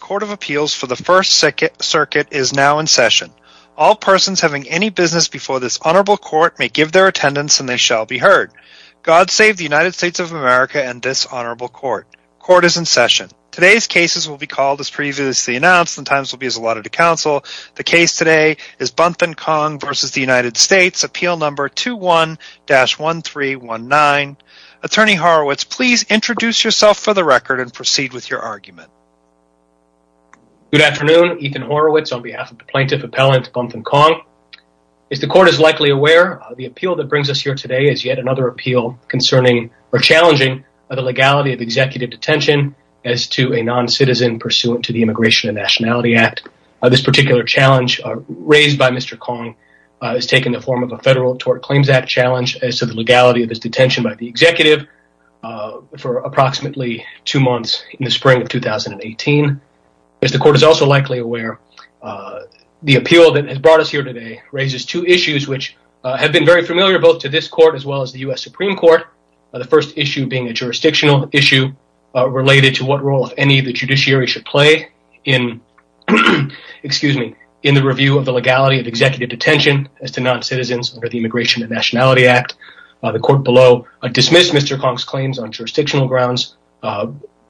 Court of Appeals for the First Circuit is now in session. All persons having any business before this honorable court may give their attendance and they shall be heard. God save the United States of America and this honorable court. Court is in session. Today's cases will be called as previously announced and times will be as allotted to counsel. The case today is Bunth & Kong v. United States, appeal number 21-1319. Attorney Horowitz, please introduce yourself for the record and proceed with your argument. Good afternoon, Ethan Horowitz on behalf of the plaintiff appellant Bunth & Kong. As the court is likely aware, the appeal that brings us here today is yet another appeal concerning or challenging the legality of executive detention as to a non-citizen pursuant to the Immigration and Nationality Act. This particular challenge raised by Mr. Kong has taken the form of a federal tort claims act challenge as to the legality of his detention by the executive for approximately two months in the spring of 2018. As the court is also likely aware, the appeal that has brought us here today raises two issues which have been very familiar both to this court as well as the U.S. Supreme Court. The first issue being a jurisdictional issue related to what role any of the judiciary should play in the review of the legality of executive detention as to non-citizens under the Immigration and Nationality Act. The court below dismissed Mr. Kong's claims on jurisdictional grounds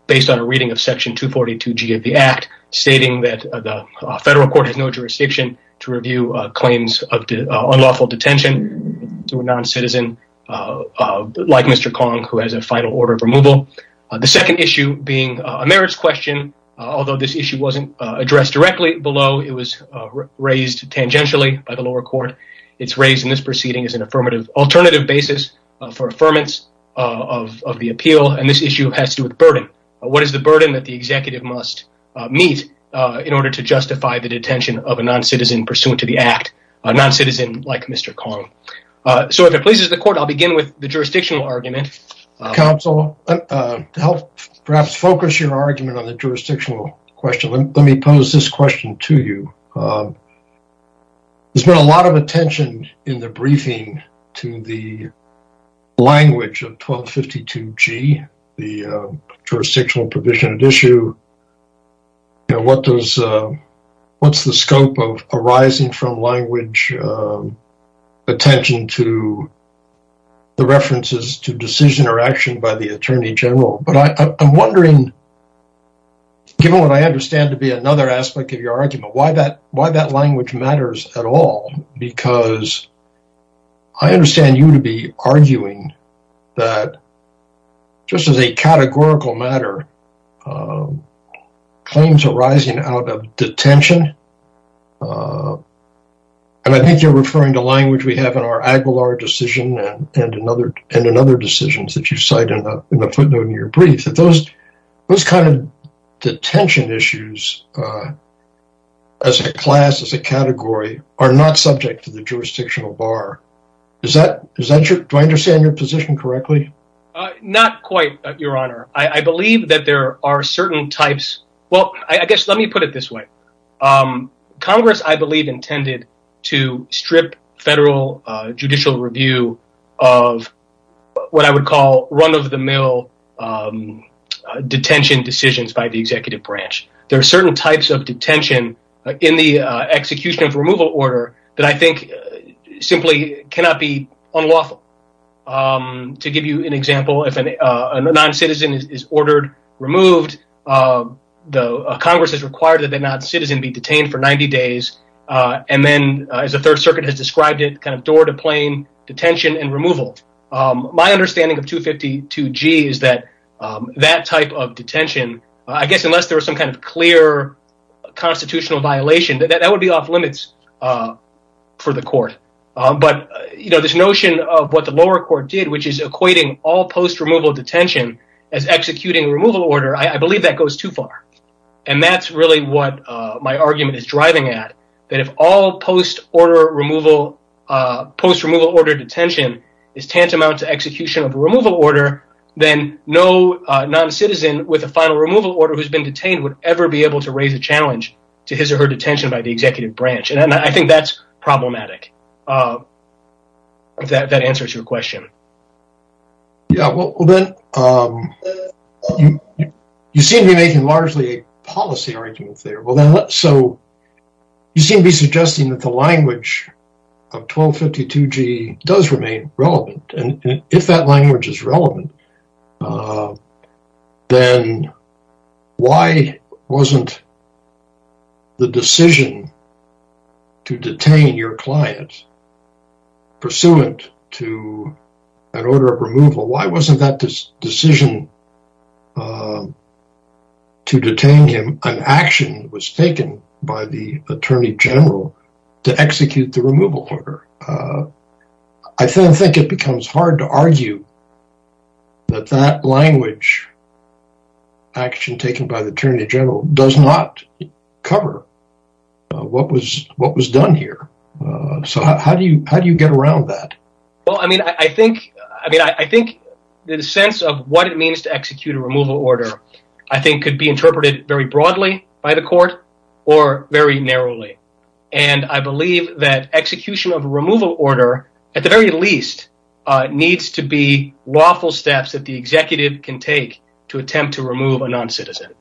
based on a reading of section 242G of the act stating that the federal court has no jurisdiction to review claims of unlawful detention to a non-citizen like Mr. Kong who has a final order of removal. The second issue being a merits question, although this issue wasn't addressed directly below, it was raised tangentially by the lower court. It's raised in this proceeding as an alternative basis for affirmance of the appeal and this issue has to do with burden. What is the burden that the executive must meet in order to justify the detention of a non-citizen pursuant to the act, a non-citizen like Mr. Kong? So if it pleases the court, I'll begin with the jurisdictional argument. Counsel, to help perhaps focus your argument on the jurisdictional question, let me pose this question to you. There's been a lot of attention in the briefing to the language of 1252G, the jurisdictional provision of the issue. What's the scope of arising from language attention to the references to decision or action by the attorney general? But I'm wondering, given what I understand to be another aspect of your argument, why that language matters at all? Because I understand you to be arguing that just as a categorical matter, claims arising out of detention, and I think you're referring to language we have in our Aguilar decision and in other decisions that you cite in the footnote in your brief. Those kind of detention issues as a class, as a category, are not subject to the jurisdictional bar. Do I understand your position correctly? Well, I guess let me put it this way. Congress, I believe, intended to strip federal judicial review of what I would call run-of-the-mill detention decisions by the executive branch. There are certain types of detention in the execution of removal order that I think simply cannot be unlawful. To give you an example, if a noncitizen is ordered removed, Congress has required that the noncitizen be detained for 90 days. And then, as the Third Circuit has described it, kind of door-to-plane detention and removal. My understanding of 252G is that that type of detention, I guess unless there was some kind of clear constitutional violation, that would be off-limits for the court. But this notion of what the lower court did, which is equating all post-removal detention as executing removal order, I believe that goes too far. And that's really what my argument is driving at, that if all post-removal order detention is tantamount to execution of a removal order, then no noncitizen with a final removal order who's been detained would ever be able to raise a challenge to his or her detention by the executive branch. And I think that's problematic, if that answers your question. Yeah, well then, you seem to be making largely a policy argument there. So, you seem to be suggesting that the language of 1252G does remain relevant. And if that language is relevant, then why wasn't the decision to detain your client pursuant to an order of removal, why wasn't that decision to detain him an action that was taken by the Attorney General to execute the removal order? I think it becomes hard to argue that that language, action taken by the Attorney General, does not cover what was done here. So, how do you get around that? Well, I mean, I think the sense of what it means to execute a removal order, I think could be interpreted very broadly by the court or very narrowly. And I believe that execution of a removal order, at the very least, needs to be lawful steps that the executive can take to attempt to remove a noncitizen.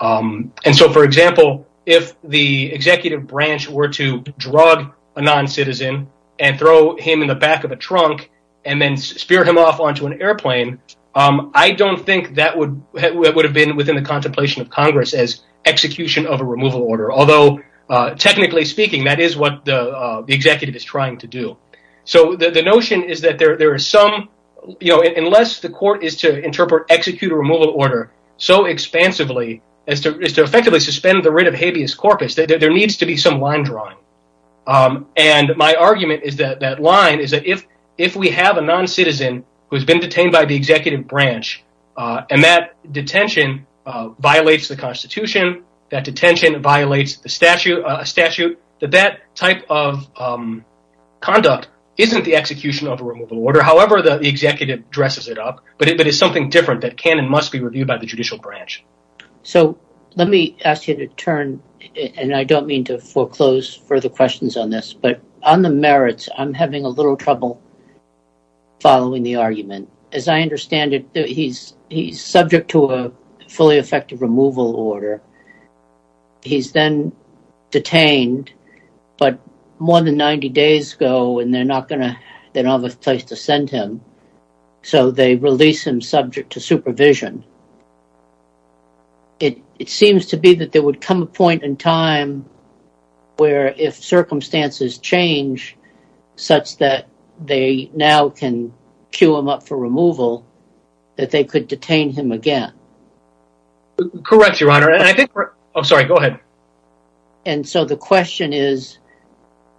And so, for example, if the executive branch were to drug a noncitizen and throw him in the back of a trunk and then spear him off onto an airplane, I don't think that would have been within the contemplation of Congress as execution of a removal order. Although, technically speaking, that is what the executive is trying to do. So, the notion is that unless the court is to interpret, execute a removal order so expansively as to effectively suspend the writ of habeas corpus, there needs to be some line drawing. And my argument is that line is that if we have a noncitizen who has been detained by the executive branch and that detention violates the Constitution, that detention violates a statute, that that type of conduct isn't the execution of a removal order. However, the executive dresses it up, but it is something different that can and must be reviewed by the judicial branch. So, let me ask you to turn, and I don't mean to foreclose further questions on this, but on the merits, I'm having a little trouble following the argument. As I understand it, he's subject to a fully effective removal order. He's then detained, but more than 90 days ago and they're not going to, they don't have a place to send him. So, they release him subject to supervision. It seems to be that there would come a point in time where if circumstances change such that they now can queue him up for removal, that they could detain him again. Correct, Your Honor. I'm sorry, go ahead. And so, the question is,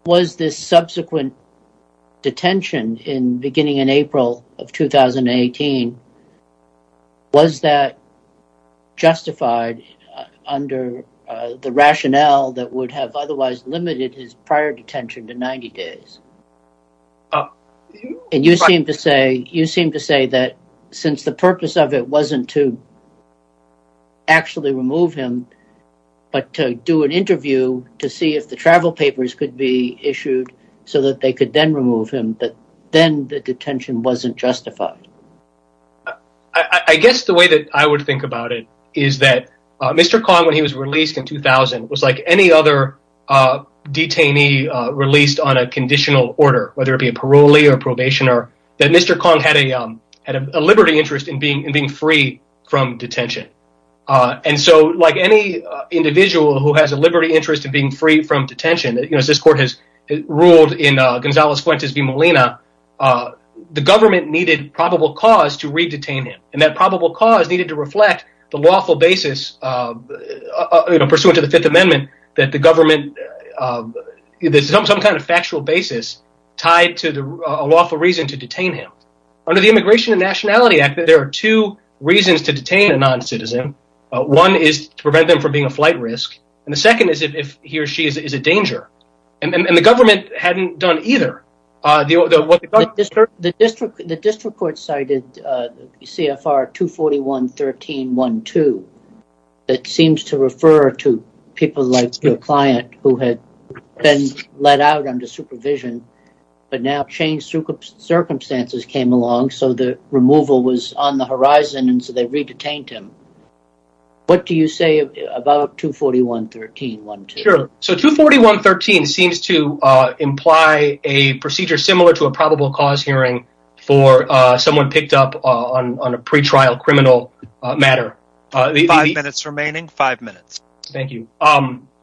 was this subsequent detention in beginning in April of 2018, was that justified under the rationale that would have otherwise limited his prior detention to 90 days? And you seem to say that since the purpose of it wasn't to actually remove him, but to do an interview to see if the travel papers could be issued so that they could then remove him, but then the detention wasn't justified. I guess the way that I would think about it is that Mr. Kong, when he was released in 2000, was like any other detainee released on a conditional order, whether it be a parolee or probationer, that Mr. Kong had a liberty interest in being free from detention. And so, like any individual who has a liberty interest in being free from detention, as this court has ruled in Gonzales-Fuentes v. Molina, the government needed probable cause to re-detain him. And that probable cause needed to reflect the lawful basis pursuant to the Fifth Amendment that the government, some kind of factual basis tied to a lawful reason to detain him. Under the Immigration and Nationality Act, there are two reasons to detain a non-citizen. One is to prevent them from being a flight risk, and the second is if he or she is a danger. And the government hadn't done either. The district court cited CFR 241.13.1.2 that seems to refer to people like your client who had been let out under supervision, but now changed circumstances came along, so the removal was on the horizon, and so they re-detained him. What do you say about 241.13.1.2? Sure. So 241.13.1.2 seems to imply a procedure similar to a probable cause hearing for someone picked up on a pretrial criminal matter. Five minutes remaining. Five minutes. Thank you.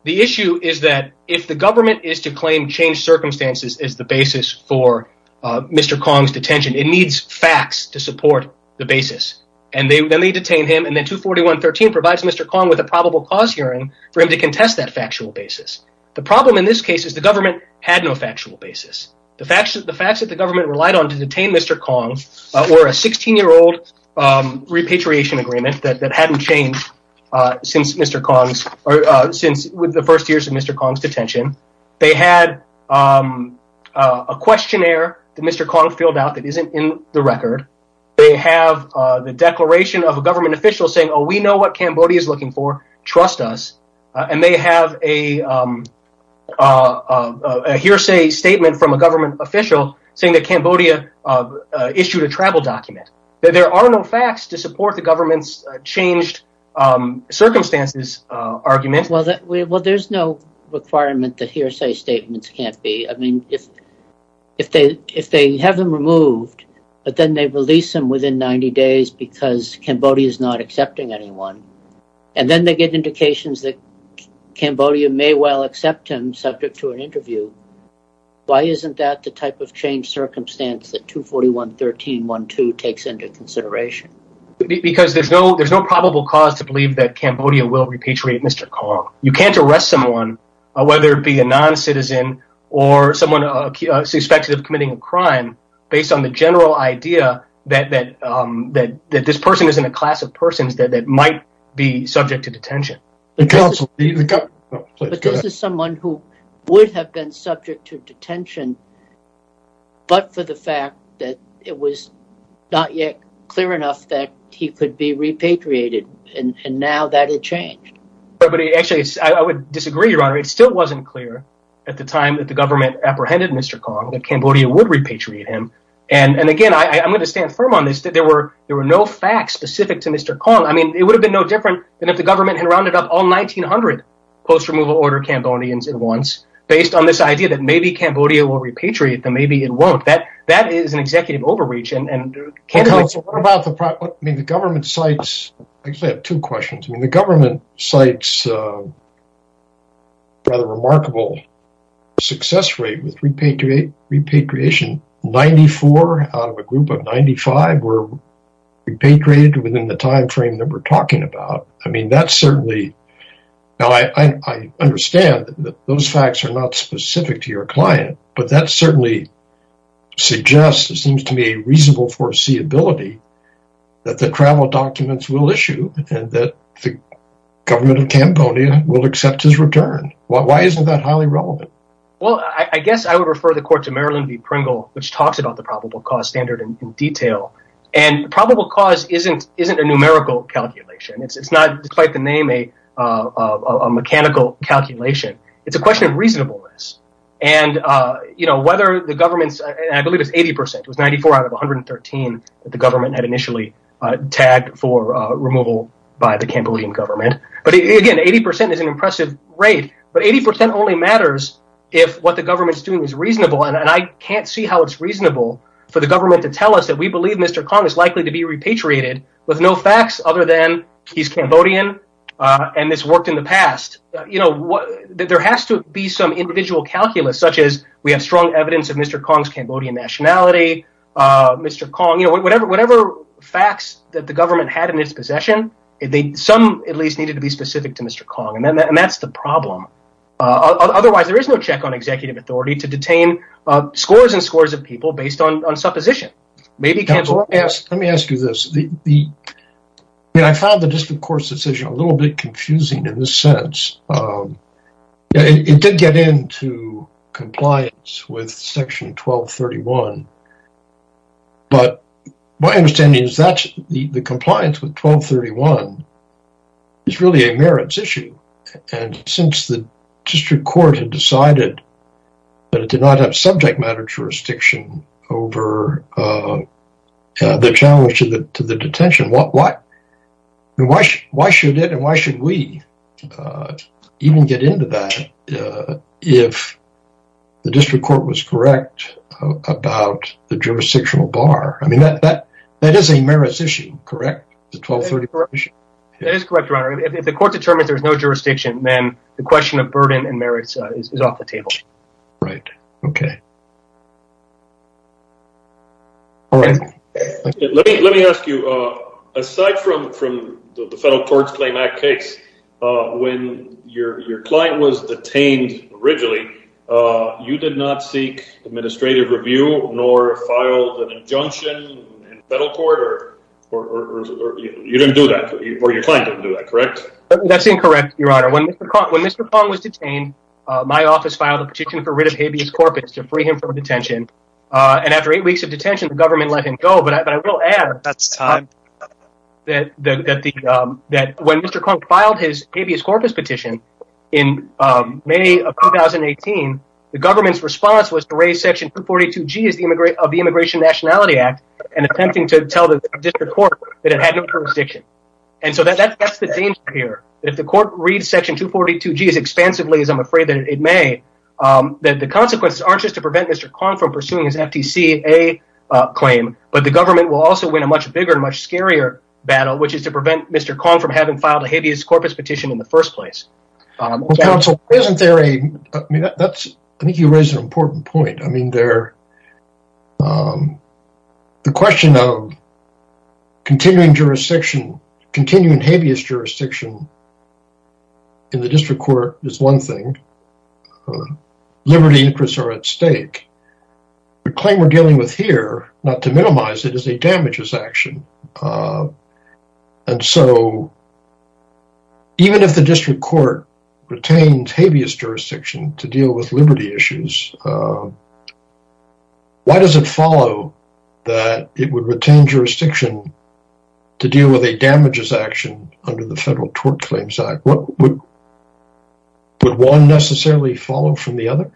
The issue is that if the government is to claim changed circumstances as the basis for Mr. Kong's detention, it needs facts to support the basis. And then they detain him, and then 241.13.1.2 provides Mr. Kong with a probable cause hearing for him to contest that factual basis. The problem in this case is the government had no factual basis. The facts that the government relied on to detain Mr. Kong were a 16-year-old repatriation agreement that hadn't changed since the first years of Mr. Kong's detention. They had a questionnaire that Mr. Kong filled out that isn't in the record. They have the declaration of a government official saying, oh, we know what Cambodia is looking for. Trust us. And they have a hearsay statement from a government official saying that Cambodia issued a travel document. There are no facts to support the government's changed circumstances argument. Well, there's no requirement that hearsay statements can't be. I mean, if they have him removed, but then they release him within 90 days because Cambodia is not accepting anyone, and then they get indications that Cambodia may well accept him subject to an interview, why isn't that the type of changed circumstance that 241.13.1.2 takes into consideration? Because there's no probable cause to believe that Cambodia will repatriate Mr. Kong. You can't arrest someone, whether it be a non-citizen or someone suspected of committing a crime, based on the general idea that this person is in a class of persons that might be subject to detention. But this is someone who would have been subject to detention, but for the fact that it was not yet clear enough that he could be repatriated. And now that had changed. But actually, I would disagree, Your Honor. It still wasn't clear at the time that the government apprehended Mr. Kong that Cambodia would repatriate him. And again, I'm going to stand firm on this, that there were there were no facts specific to Mr. Kong. I mean, it would have been no different than if the government had rounded up all 1,900 post-removal order Cambodians at once, based on this idea that maybe Cambodia will repatriate them, maybe it won't. That is an executive overreach. What about the government's sites? I actually have two questions. I mean, the government cites a rather remarkable success rate with repatriation. Ninety-four out of a group of 95 were repatriated within the time frame that we're talking about. I mean, that's certainly... Now, I understand that those facts are not specific to your client, but that certainly suggests, it seems to me, a reasonable foreseeability that the travel documents will issue and that the government of Cambodia will accept his return. Why isn't that highly relevant? Well, I guess I would refer the court to Marilyn B. Pringle, which talks about the probable cause standard in detail. And probable cause isn't a numerical calculation. It's not, despite the name, a mechanical calculation. It's a question of reasonableness. And, you know, whether the government's... And I believe it's 80 percent. It was 94 out of 113 that the government had initially tagged for removal by the Cambodian government. But, again, 80 percent is an impressive rate. But 80 percent only matters if what the government's doing is reasonable. And I can't see how it's reasonable for the government to tell us that we believe Mr. Kong is likely to be repatriated with no facts other than he's Cambodian and this worked in the past. You know, there has to be some individual calculus, such as we have strong evidence of Mr. Kong's Cambodian nationality. Mr. Kong, you know, whatever facts that the government had in its possession, some at least needed to be specific to Mr. Kong. And that's the problem. Otherwise, there is no check on executive authority to detain scores and scores of people based on supposition. Maybe Cambodians... Let me ask you this. I mean, I found the District Court's decision a little bit confusing in this sense. It did get into compliance with Section 1231. But my understanding is that the compliance with 1231 is really a merits issue. And since the District Court had decided that it did not have subject matter jurisdiction over the challenge to the detention, why should it and why should we even get into that if the District Court was correct about the jurisdictional bar? I mean, that is a merits issue, correct? The 1231 issue? That is correct, Your Honor. If the court determines there's no jurisdiction, then the question of burden and merits is off the table. Right. Okay. All right. Let me ask you, aside from the Federal Courts Claim Act case, when your client was detained originally, you did not seek administrative review nor filed an injunction in federal court? You didn't do that, or your client didn't do that, correct? That's incorrect, Your Honor. When Mr. Kong was detained, my office filed a petition for writ of habeas corpus to free him from detention. And after eight weeks of detention, the government let him go. But I will add that when Mr. Kong filed his habeas corpus petition in May of 2018, the government's response was to raise Section 242G of the Immigration and Nationality Act and attempting to tell the District Court that it had no jurisdiction. And so that's the danger here. If the court reads Section 242G as expansively as I'm afraid that it may, the consequences aren't just to prevent Mr. Kong from pursuing his FTCA claim, but the government will also win a much bigger and much scarier battle, which is to prevent Mr. Kong from having filed a habeas corpus petition in the first place. Counsel, isn't there a... I think you raise an important point. I mean, the question of continuing habeas jurisdiction in the District Court is one thing. Liberty interests are at stake. The claim we're dealing with here, not to minimize it, is a damages action. And so even if the District Court retains habeas jurisdiction to deal with liberty issues, why does it follow that it would retain jurisdiction to deal with a damages action under the Federal Tort Claims Act? Would one necessarily follow from the other?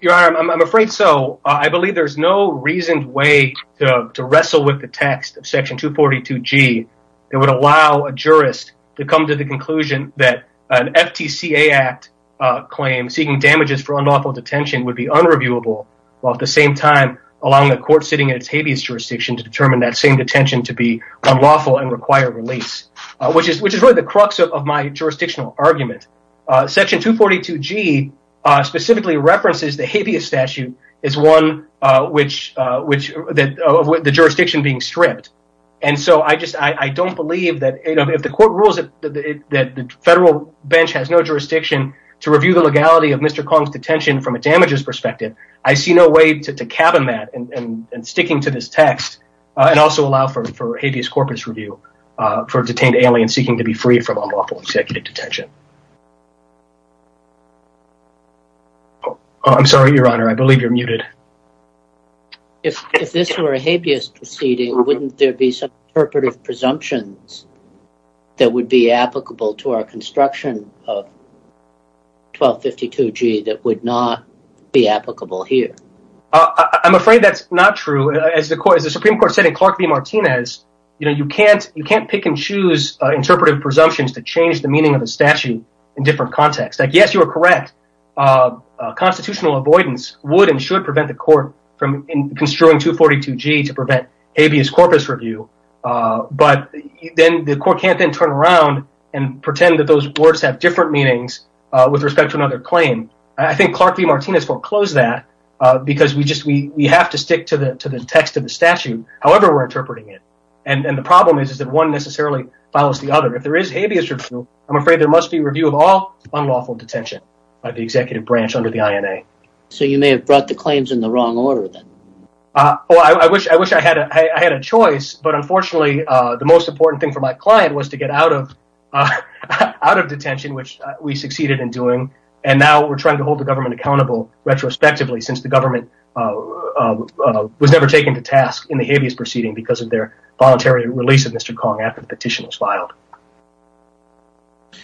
Your Honor, I'm afraid so. I believe there's no reasoned way to wrestle with the text of Section 242G that would allow a jurist to come to the conclusion that an FTCA Act claim seeking damages for unlawful detention would be unreviewable, while at the same time allowing a court sitting in its habeas jurisdiction to determine that same detention to be unlawful and require release, which is really the crux of my jurisdictional argument. Section 242G specifically references the habeas statute as one of the jurisdictions being stripped. And so I don't believe that if the court rules that the Federal bench has no jurisdiction to review the legality of Mr. Kong's detention from a damages perspective, I see no way to cabin that and sticking to this text and also allow for habeas corpus review for detained aliens seeking to be free from unlawful executive detention. I'm sorry, Your Honor, I believe you're muted. If this were a habeas proceeding, wouldn't there be some interpretive presumptions that would be applicable to our construction of 1252G that would not be applicable here? I'm afraid that's not true. As the Supreme Court said in Clark v. Martinez, you can't pick and choose interpretive presumptions to change the meaning of a statute in different contexts. Yes, you are correct. Constitutional avoidance would and should prevent the court from construing 242G to prevent habeas corpus review. But then the court can't then turn around and pretend that those words have different meanings with respect to another claim. I think Clark v. Martinez foreclosed that because we have to stick to the text of the statute, however we're interpreting it, and the problem is that one necessarily follows the other. If there is habeas review, I'm afraid there must be review of all unlawful detention by the executive branch under the INA. So you may have brought the claims in the wrong order then? I wish I had a choice, but unfortunately the most important thing for my client was to get out of detention, which we succeeded in doing, and now we're trying to hold the government accountable retrospectively since the government was never taken to task in the habeas proceeding because of their voluntary release of Mr. Kong after the petition was filed.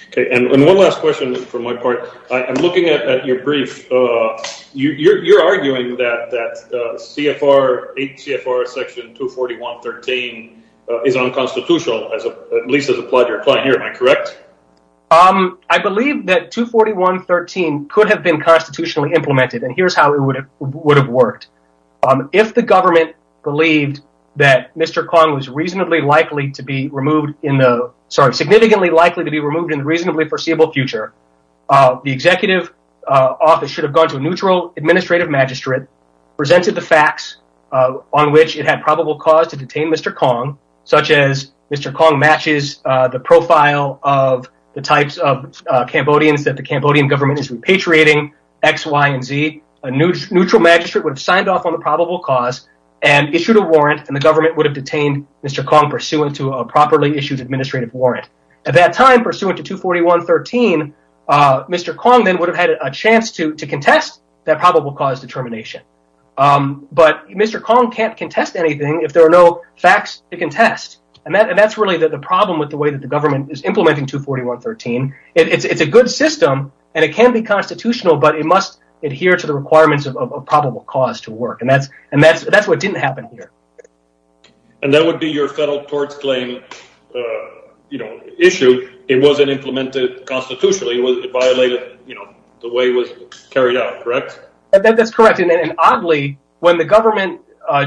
Okay, and one last question from my part. I'm looking at your brief. You're arguing that 8 CFR section 241.13 is unconstitutional, at least as applied to your client here, am I correct? I believe that 241.13 could have been constitutionally implemented, and here's how it would have worked. If the government believed that Mr. Kong was significantly likely to be removed in the reasonably foreseeable future, the executive office should have gone to a neutral administrative magistrate, presented the facts on which it had probable cause to detain Mr. Kong, such as Mr. Kong matches the profile of the types of Cambodians that the Cambodian government is repatriating, X, Y, and Z. A neutral magistrate would have signed off on the probable cause and issued a warrant, and the government would have detained Mr. Kong pursuant to a properly issued administrative warrant. At that time, pursuant to 241.13, Mr. Kong then would have had a chance to contest that probable cause determination. But Mr. Kong can't contest anything if there are no facts to contest, and that's really the problem with the way that the government is implementing 241.13. It's a good system, and it can be constitutional, but it must adhere to the requirements of probable cause to work, and that's what didn't happen here. And that would be your federal court's claim issue. It wasn't implemented constitutionally. It violated the way it was carried out, correct? That's correct, and oddly, when the government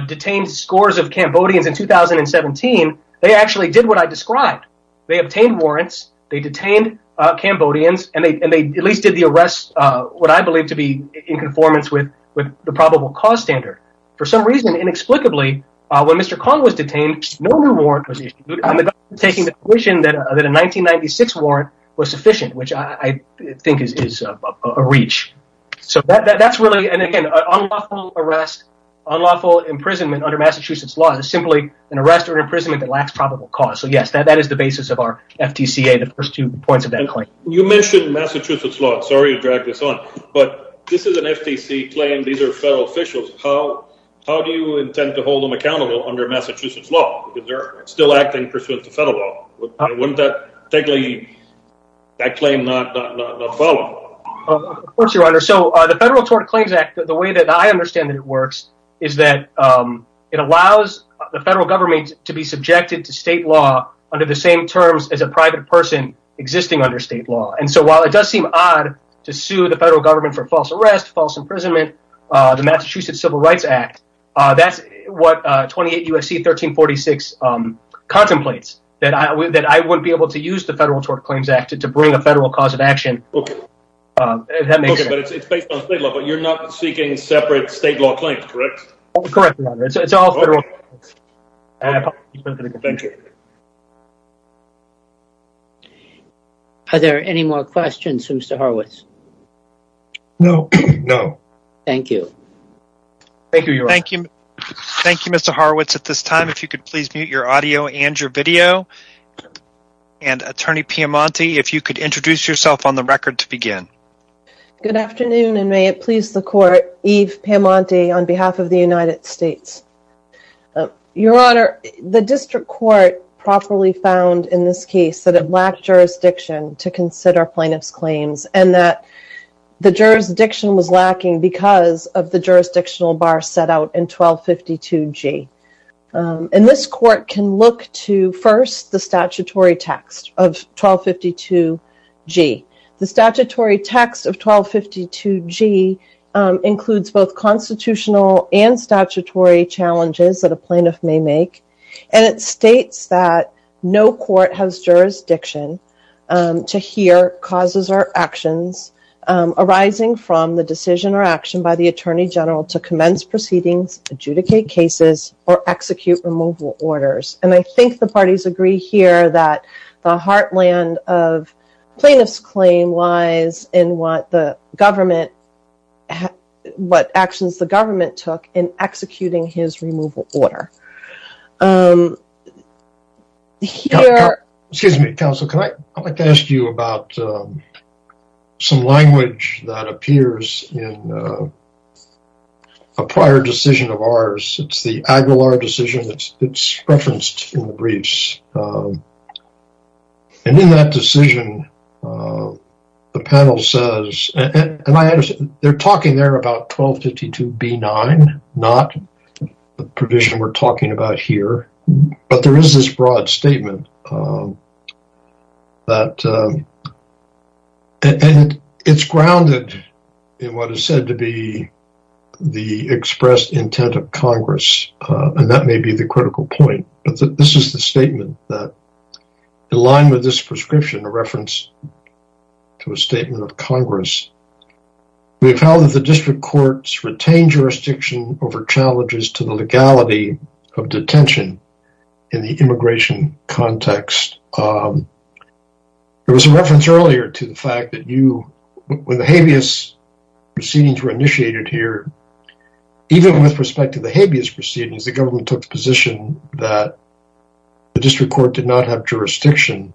detained scores of Cambodians in 2017, they actually did what I described. They obtained warrants, they detained Cambodians, and they at least did the arrest what I believe to be in conformance with the probable cause standard. For some reason, inexplicably, when Mr. Kong was detained, no new warrant was issued, and the government was taking the position that a 1996 warrant was sufficient, which I think is a reach. So that's really, and again, unlawful arrest, unlawful imprisonment under Massachusetts law is simply an arrest or imprisonment that lacks probable cause. So yes, that is the basis of our FTCA, the first two points of that claim. You mentioned Massachusetts law. Sorry to drag this on, but this is an FTC claim. These are federal officials. How do you intend to hold them accountable under Massachusetts law? They're still acting pursuant to federal law. Wouldn't that claim not follow? Of course, Your Honor. So the Federal Tort Claims Act, the way that I understand that it works is that it allows the federal government to be subjected to state law under the same terms as a private person existing under state law. And so while it does seem odd to sue the federal government for false arrest, false imprisonment, the Massachusetts Civil Rights Act, that's what 28 U.S.C. 1346 contemplates, that I wouldn't be able to use the Federal Tort Claims Act to bring a federal cause of action. Okay, but it's based on state law, but you're not seeking separate state law claims, correct? Correct, Your Honor. It's all federal. Thank you. Are there any more questions for Mr. Horowitz? No. No. Thank you. Thank you, Your Honor. Thank you, Mr. Horowitz, at this time. If you could please mute your audio and your video. And, Attorney Piamonte, if you could introduce yourself on the record to begin. Good afternoon, and may it please the Court, Eve Piamonte on behalf of the United States. Your Honor, the District Court properly found in this case that it lacked jurisdiction to consider plaintiff's claims and that the jurisdiction was lacking because of the jurisdictional bar set out in 1252G. And this Court can look to, first, the statutory text of 1252G. The statutory text of 1252G includes both constitutional and statutory challenges that a plaintiff may make, and it states that no court has jurisdiction to hear causes or actions arising from the decision or action by the Attorney General to commence proceedings, adjudicate cases, or execute removal orders. And I think the parties agree here that the heartland of plaintiff's claim lies in what actions the government took in executing his removal order. Excuse me, Counsel, I'd like to ask you about some language that appears in a prior decision of ours. It's the Aguilar decision that's referenced in the briefs. And in that decision, the panel says, and I understand, they're talking there about 1252B9, not the provision we're talking about here, but there is this broad statement that, and it's grounded in what is said to be the expressed intent of Congress, and that may be the critical point, but this is the statement that, in line with this prescription, a reference to a statement of Congress, we have held that the district courts retain jurisdiction over challenges to the legality of detention in the immigration context. There was a reference earlier to the fact that when the habeas proceedings were initiated here, even with respect to the habeas proceedings, the government took the position that the district court did not have jurisdiction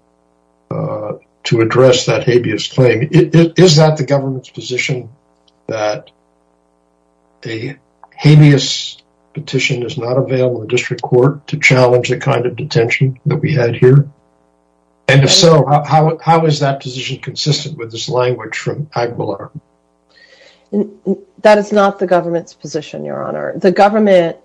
to address that habeas claim. Is that the government's position that a habeas petition is not available in the district court to challenge the kind of detention that we had here? And if so, how is that position consistent with this language from Aguilar? That is not the government's position, Your Honor. The government,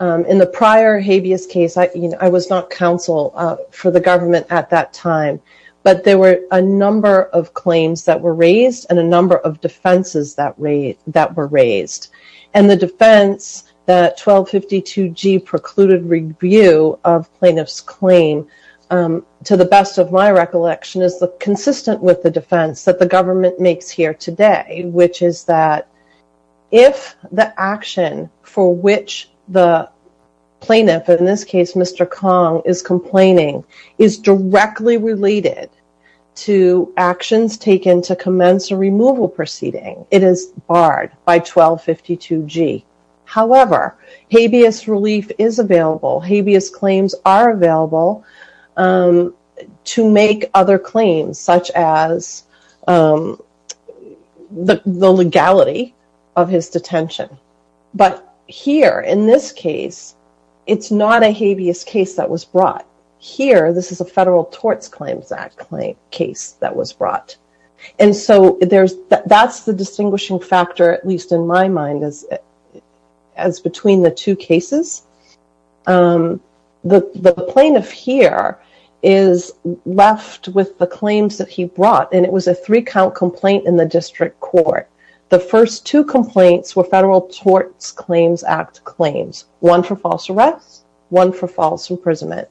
in the prior habeas case, I was not counsel for the government at that time, but there were a number of claims that were raised and a number of defenses that were raised. And the defense that 1252G precluded review of plaintiff's claim, to the best of my recollection, is consistent with the defense that the government makes here today, which is that if the action for which the plaintiff, in this case Mr. Kong, is complaining, is directly related to actions taken to commence a removal proceeding, it is barred by 1252G. However, habeas relief is available. Habeas claims are available to make other claims, such as the legality of his detention. But here, in this case, it's not a habeas case that was brought. Here, this is a Federal Tort Claims Act case that was brought. And so that's the distinguishing factor, at least in my mind, as between the two cases. The plaintiff here is left with the claims that he brought, and it was a three-count complaint in the district court. The first two complaints were Federal Tort Claims Act claims, one for false arrest, one for false imprisonment.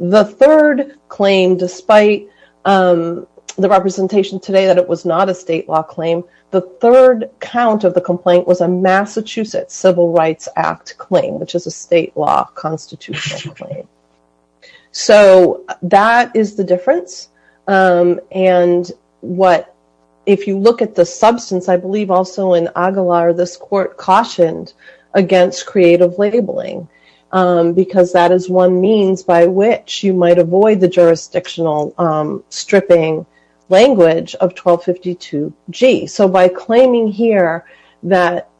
The third claim, despite the representation today that it was not a state law claim, the third count of the complaint was a Massachusetts Civil Rights Act claim, which is a state law constitutional claim. So that is the difference. And if you look at the substance, I believe also in Aguilar, this court cautioned against creative labeling, because that is one means by which you might avoid the jurisdictional stripping language of 1252G. So by claiming here that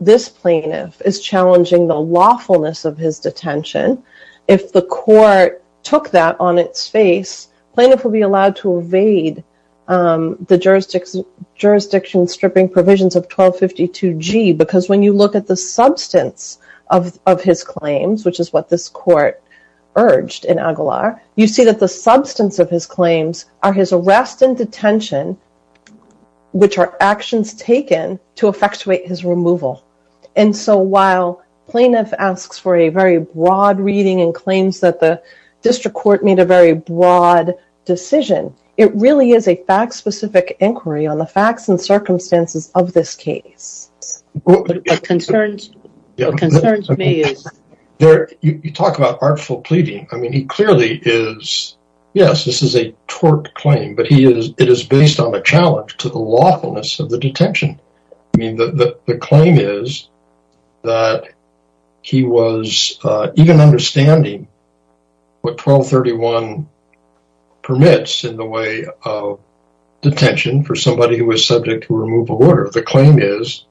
this plaintiff is challenging the lawfulness of his detention, if the court took that on its face, plaintiff will be allowed to evade the jurisdiction stripping provisions of 1252G, because when you look at the substance of his claims, which is what this court urged in Aguilar, you see that the substance of his claims are his arrest and detention, which are actions taken to effectuate his removal. And so while plaintiff asks for a very broad reading and claims that the district court made a very broad decision, it really is a fact-specific inquiry on the facts and circumstances of this case. What concerns me is... You talk about artful pleading. I mean, he clearly is, yes, this is a torte claim, but it is based on a challenge to the lawfulness of the detention. I mean, the claim is that he was even understanding what 1231 permits in the way of detention for somebody who was subject to removal order. The claim is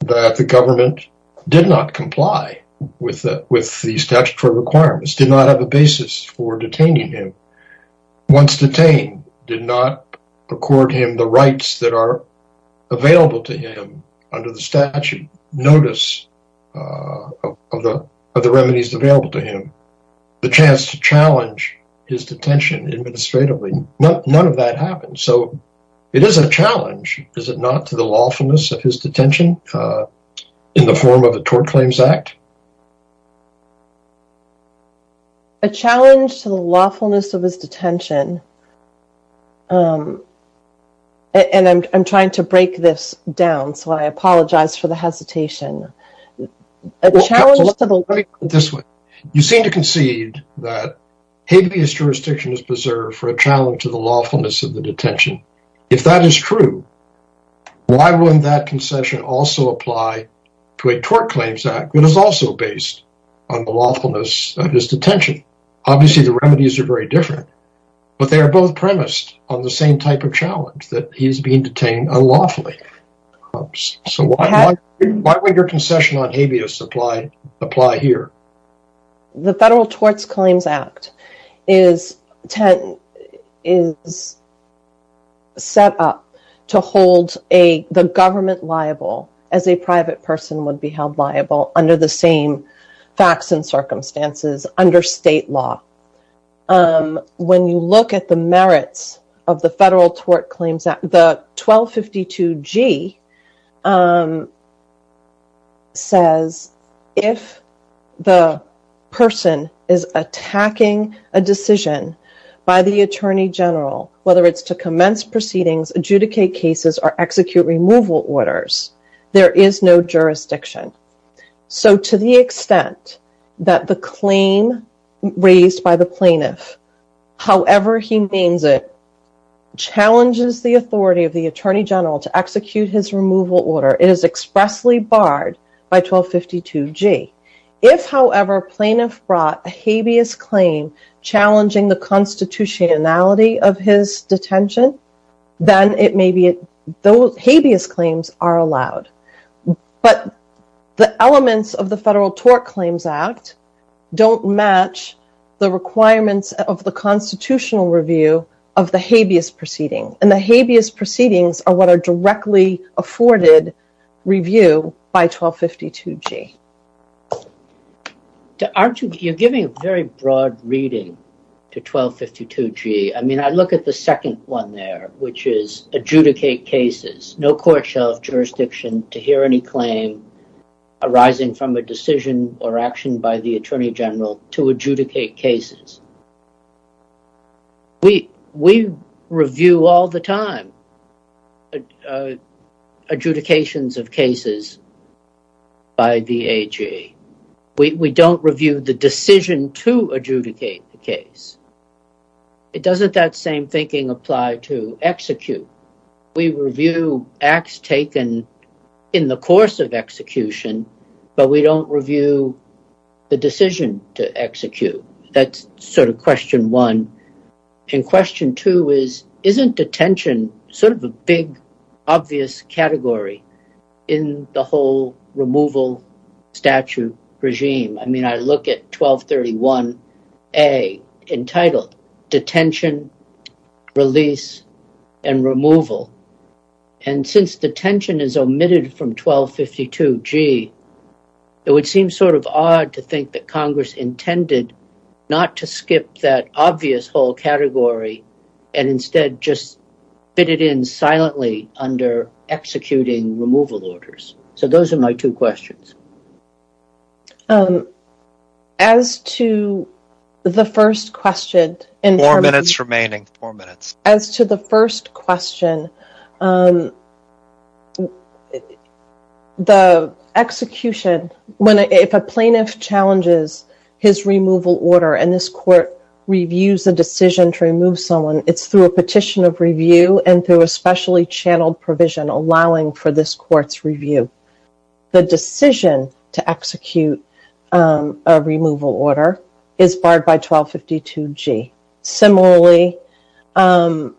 that the government did not comply with the statutory requirements, did not have a basis for detaining him. Once detained, did not accord him the rights that are available to him under the statute notice of the remedies available to him. The chance to challenge his detention administratively, none of that happened. So it is a challenge, is it not, to the lawfulness of his detention in the form of a torte claims act? A challenge to the lawfulness of his detention. And I'm trying to break this down, so I apologize for the hesitation. You seem to concede that habeas jurisdiction is preserved for a challenge to the lawfulness of the detention. If that is true, why wouldn't that concession also apply to a torte claims act that is also based on the lawfulness of his detention? Obviously the remedies are very different, but they are both premised on the same type of challenge, that he is being detained unlawfully. So why would your concession on habeas apply here? The federal torte claims act is set up to hold the government liable as a private person would be held liable under the same facts and circumstances under state law. When you look at the merits of the federal torte claims act, the 1252G says if the person is attacking a decision by the attorney general, whether it's to commence proceedings, adjudicate cases, or execute removal orders, there is no jurisdiction. So to the extent that the claim raised by the plaintiff, however he names it, challenges the authority of the attorney general to execute his removal order, it is expressly barred by 1252G. If, however, plaintiff brought a habeas claim challenging the constitutionality of his detention, then it may be, those habeas claims are allowed. But the elements of the federal torte claims act don't match the requirements of the constitutional review of the habeas proceeding. And the habeas proceedings are what are directly afforded review by 1252G. You're giving a very broad reading to 1252G. I mean, I look at the second one there, which is adjudicate cases. No court shall have jurisdiction to hear any claim arising from a decision or action by the attorney general to adjudicate cases. We review all the time adjudications of cases by the AG. We don't review the decision to adjudicate the case. It doesn't, that same thinking, apply to execute. We review acts taken in the course of execution, but we don't review the decision to execute. That's sort of question one. And question two is, isn't detention sort of a big, obvious category in the whole removal statute regime? I mean, I look at 1231A entitled Detention, Release, and Removal. And since detention is omitted from 1252G, it would seem sort of odd to think that Congress intended not to skip that obvious whole category and instead just fit it in silently under executing removal orders. So those are my two questions. As to the first question... Four minutes remaining. Four minutes. As to the first question, the execution, if a plaintiff challenges his removal order and this court reviews the decision to remove someone, it's through a petition of review and through a specially channeled provision allowing for this court's review. The decision to execute a removal order is barred by 1252G. Similarly, and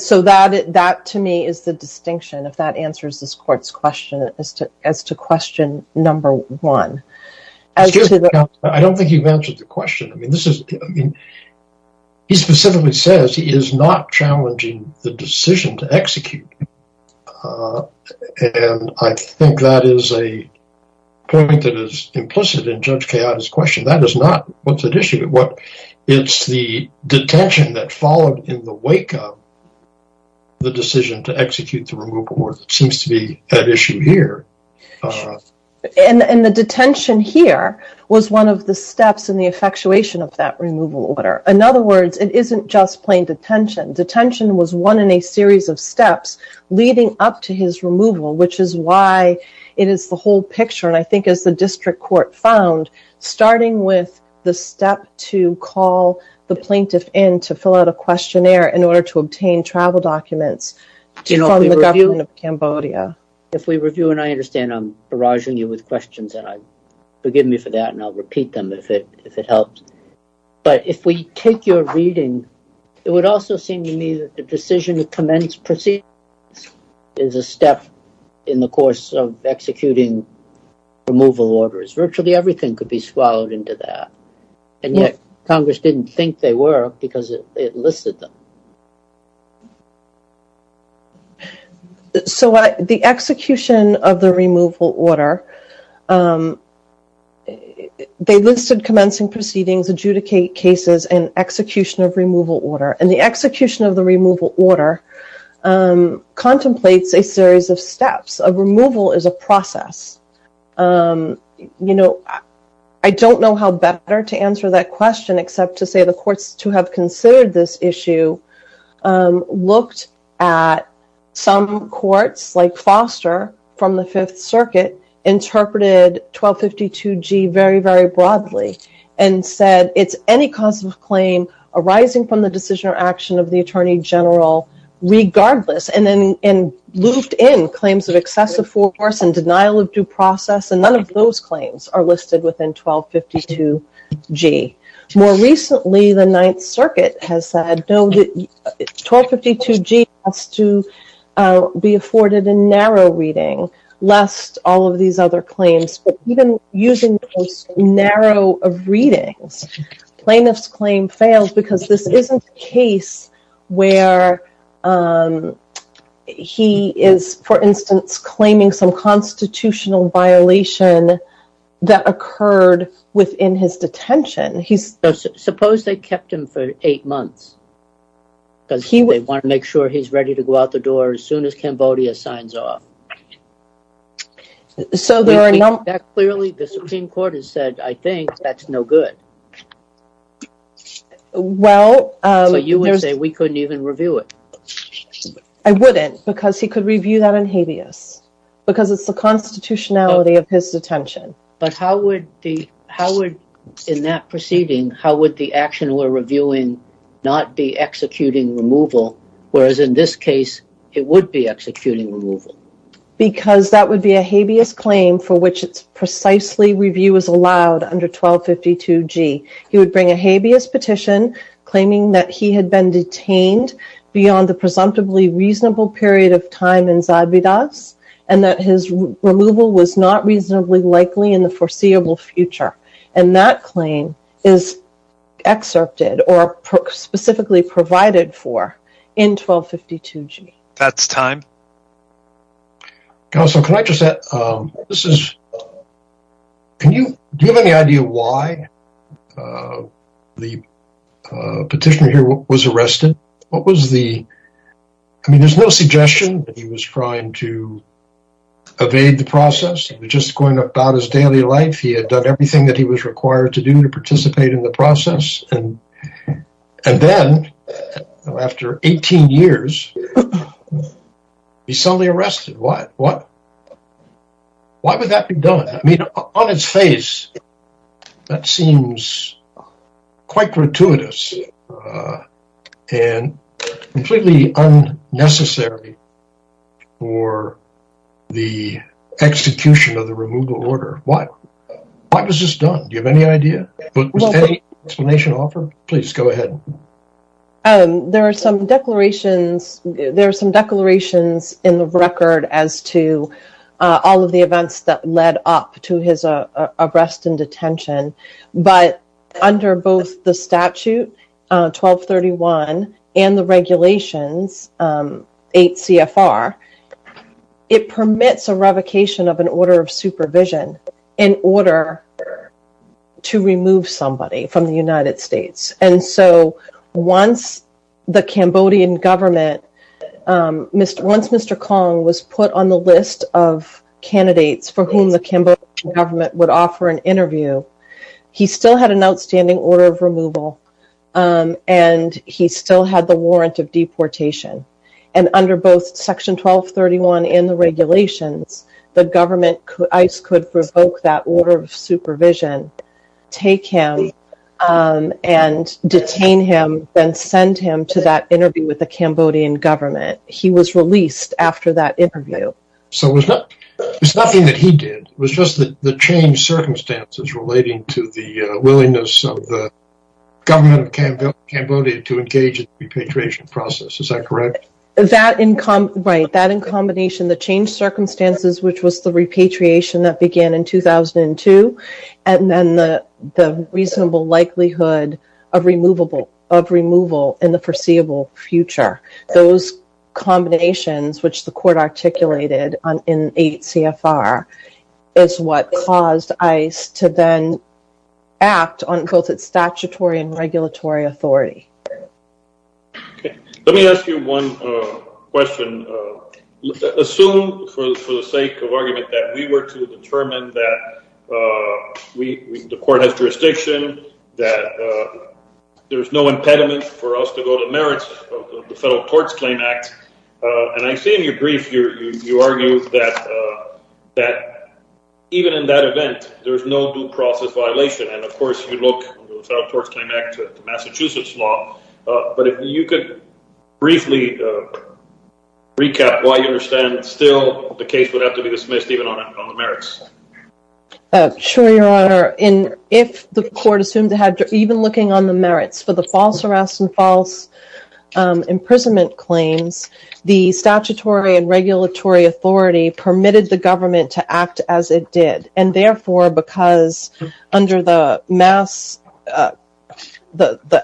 so that to me is the distinction, if that answers this court's question, as to question number one. Excuse me, counsel, I don't think you've answered the question. He specifically says he is not challenging the decision to execute. And I think that is a point that is implicit in Judge Kayada's question. That is not what's at issue. It's the detention that followed in the wake of the decision to execute the removal order that seems to be at issue here. And the detention here was one of the steps in the effectuation of that removal order. In other words, it isn't just plain detention. Detention was one in a series of steps leading up to his removal, which is why it is the whole picture. And I think as the district court found, starting with the step to call the plaintiff in to fill out a questionnaire in order to obtain travel documents from the government of Cambodia. If we review, and I understand I'm barraging you with questions, and forgive me for that, and I'll repeat them if it helps. But if we take your reading, it would also seem to me that the decision to commence proceedings is a step in the course of executing removal orders. Virtually everything could be swallowed into that. And yet Congress didn't think they were because it listed them. So the execution of the removal order, they listed commencing proceedings, adjudicate cases, and execution of removal order. And the execution of the removal order contemplates a series of steps. You know, I don't know how better to answer that question except to say the courts to have considered this issue looked at some courts like Foster from the Fifth Circuit interpreted 1252G very, very broadly. And said it's any cause of claim arising from the decision or action of the Attorney General regardless. And then looped in claims of excessive force and denial of due process. And none of those claims are listed within 1252G. More recently, the Ninth Circuit has said 1252G has to be afforded a narrow reading, lest all of these other claims. But even using the most narrow of readings, plaintiff's claim fails because this isn't a case where he is, for instance, claiming some constitutional violation that occurred within his detention. Suppose they kept him for eight months. Because they want to make sure he's ready to go out the door as soon as Cambodia signs off. Clearly the Supreme Court has said, I think that's no good. Well, you would say we couldn't even review it. I wouldn't because he could review that in habeas. Because it's the constitutionality of his detention. But how would in that proceeding, how would the action we're reviewing not be executing removal? Whereas in this case, it would be executing removal. Because that would be a habeas claim for which it's precisely review is allowed under 1252G. He would bring a habeas petition claiming that he had been detained beyond the presumptively reasonable period of time in Zadvydas. And that his removal was not reasonably likely in the foreseeable future. And that claim is excerpted or specifically provided for in 1252G. That's time. Can I just add, do you have any idea why the petitioner here was arrested? What was the, I mean, there's no suggestion that he was trying to evade the process. It was just going about his daily life. He had done everything that he was required to do to participate in the process. And then, after 18 years, he's suddenly arrested. Why? Why would that be done? I mean, on its face, that seems quite gratuitous and completely unnecessary for the execution of the removal order. Why? Why was this done? Do you have any idea? Was there any explanation offered? Please, go ahead. There are some declarations in the record as to all of the events that led up to his arrest and detention. But under both the statute, 1231, and the regulations, 8 CFR, it permits a revocation of an order of supervision in order to remove somebody from the United States. And so, once the Cambodian government, once Mr. Kong was put on the list of candidates for whom the Cambodian government would offer an interview, he still had an outstanding order of removal. And he still had the warrant of deportation. And under both section 1231 and the regulations, the government, ICE, could revoke that order of supervision, take him, and detain him, then send him to that interview with the Cambodian government. He was released after that interview. So, it's nothing that he did. It was just the changed circumstances relating to the willingness of the government of Cambodia to engage in the repatriation process. Is that correct? Right. That in combination, the changed circumstances, which was the repatriation that began in 2002, and then the reasonable likelihood of removal in the foreseeable future. Those combinations, which the court articulated in 8 CFR, is what caused ICE to then act on both its statutory and regulatory authority. Let me ask you one question. Assume, for the sake of argument, that we were to determine that the court has jurisdiction, that there's no impediment for us to go to merits of the Federal Courts Claim Act. And I see in your brief, you argue that even in that event, there's no due process violation. And, of course, you look under the Federal Courts Claim Act to Massachusetts law. But if you could briefly recap why you understand that still the case would have to be dismissed even on the merits. Sure, Your Honor. If the court assumed to have, even looking on the merits for the false arrest and false imprisonment claims, the statutory and regulatory authority permitted the government to act as it did. And, therefore, because under the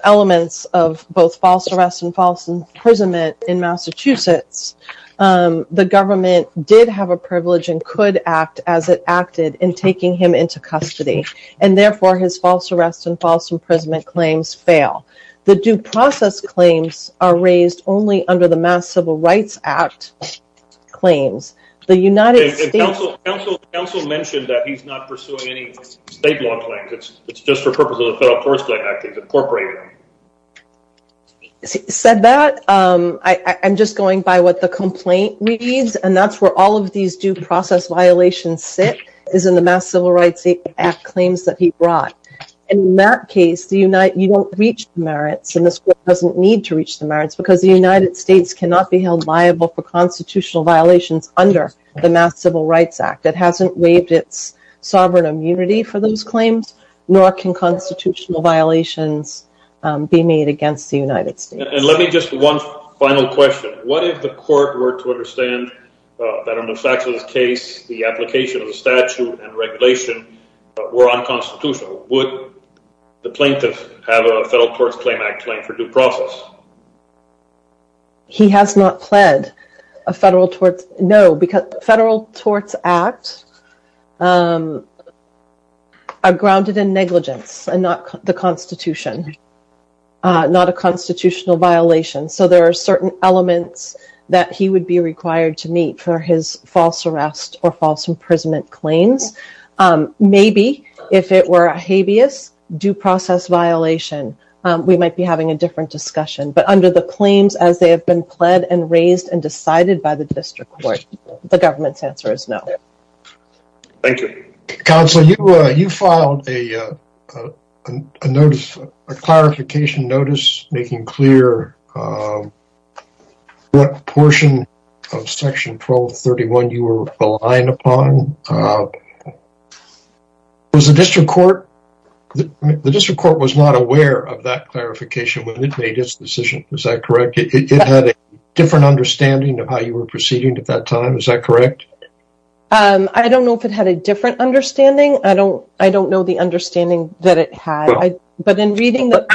elements of both false arrest and false imprisonment in Massachusetts, the government did have a privilege and could act as it acted in taking him into custody. And, therefore, his false arrest and false imprisonment claims fail. The due process claims are raised only under the Mass Civil Rights Act claims. And counsel mentioned that he's not pursuing any state law claims. It's just for purposes of the Federal Courts Claim Act. It's incorporated. Said that, I'm just going by what the complaint reads. And that's where all of these due process violations sit is in the Mass Civil Rights Act claims that he brought. In that case, you don't reach the merits. And this court doesn't need to reach the merits because the United States cannot be held liable for constitutional violations under the Mass Civil Rights Act. It hasn't waived its sovereign immunity for those claims, nor can constitutional violations be made against the United States. And let me just one final question. What if the court were to understand that in a Massachusetts case, the application of the statute and regulation were unconstitutional? Would the plaintiff have a Federal Courts Claim Act claim for due process? He has not pled a Federal Torts. No, because Federal Torts Act are grounded in negligence and not the Constitution, not a constitutional violation. So there are certain elements that he would be required to meet for his false arrest or false imprisonment claims. Maybe if it were a habeas due process violation, we might be having a different discussion. But under the claims as they have been pled and raised and decided by the district court, the government's answer is no. Thank you. Counsel, you filed a notice, a clarification notice, making clear what portion of Section 1231 you were relying upon. Was the district court, the district court was not aware of that clarification when it made its decision. Is that correct? It had a different understanding of how you were proceeding at that time. Is that correct? I don't know if it had a different understanding. I don't I don't know the understanding that it had. But in reading that,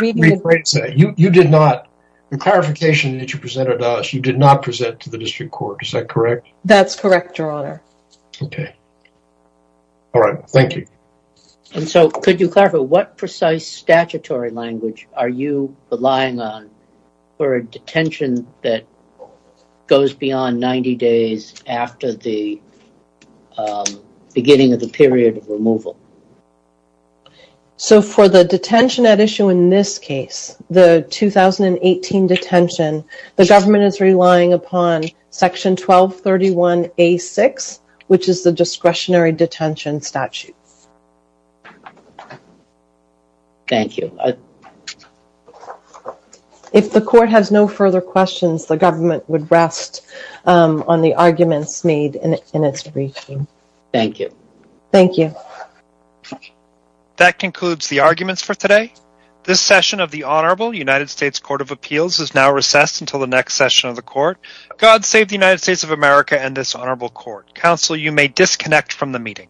you did not in clarification that you presented us, you did not present to the district court. Is that correct? That's correct, Your Honor. OK. All right. Thank you. And so could you clarify what precise statutory language are you relying on for a detention that goes beyond 90 days after the beginning of the period of removal? So for the detention at issue in this case, the 2018 detention, the government is relying upon Section 1231 A6, which is the discretionary detention statute. Thank you. If the court has no further questions, the government would rest on the arguments made in its briefing. Thank you. Thank you. That concludes the arguments for today. This session of the Honorable United States Court of Appeals is now recessed until the next session of the court. God save the United States of America and this honorable court. Counsel, you may disconnect from the meeting.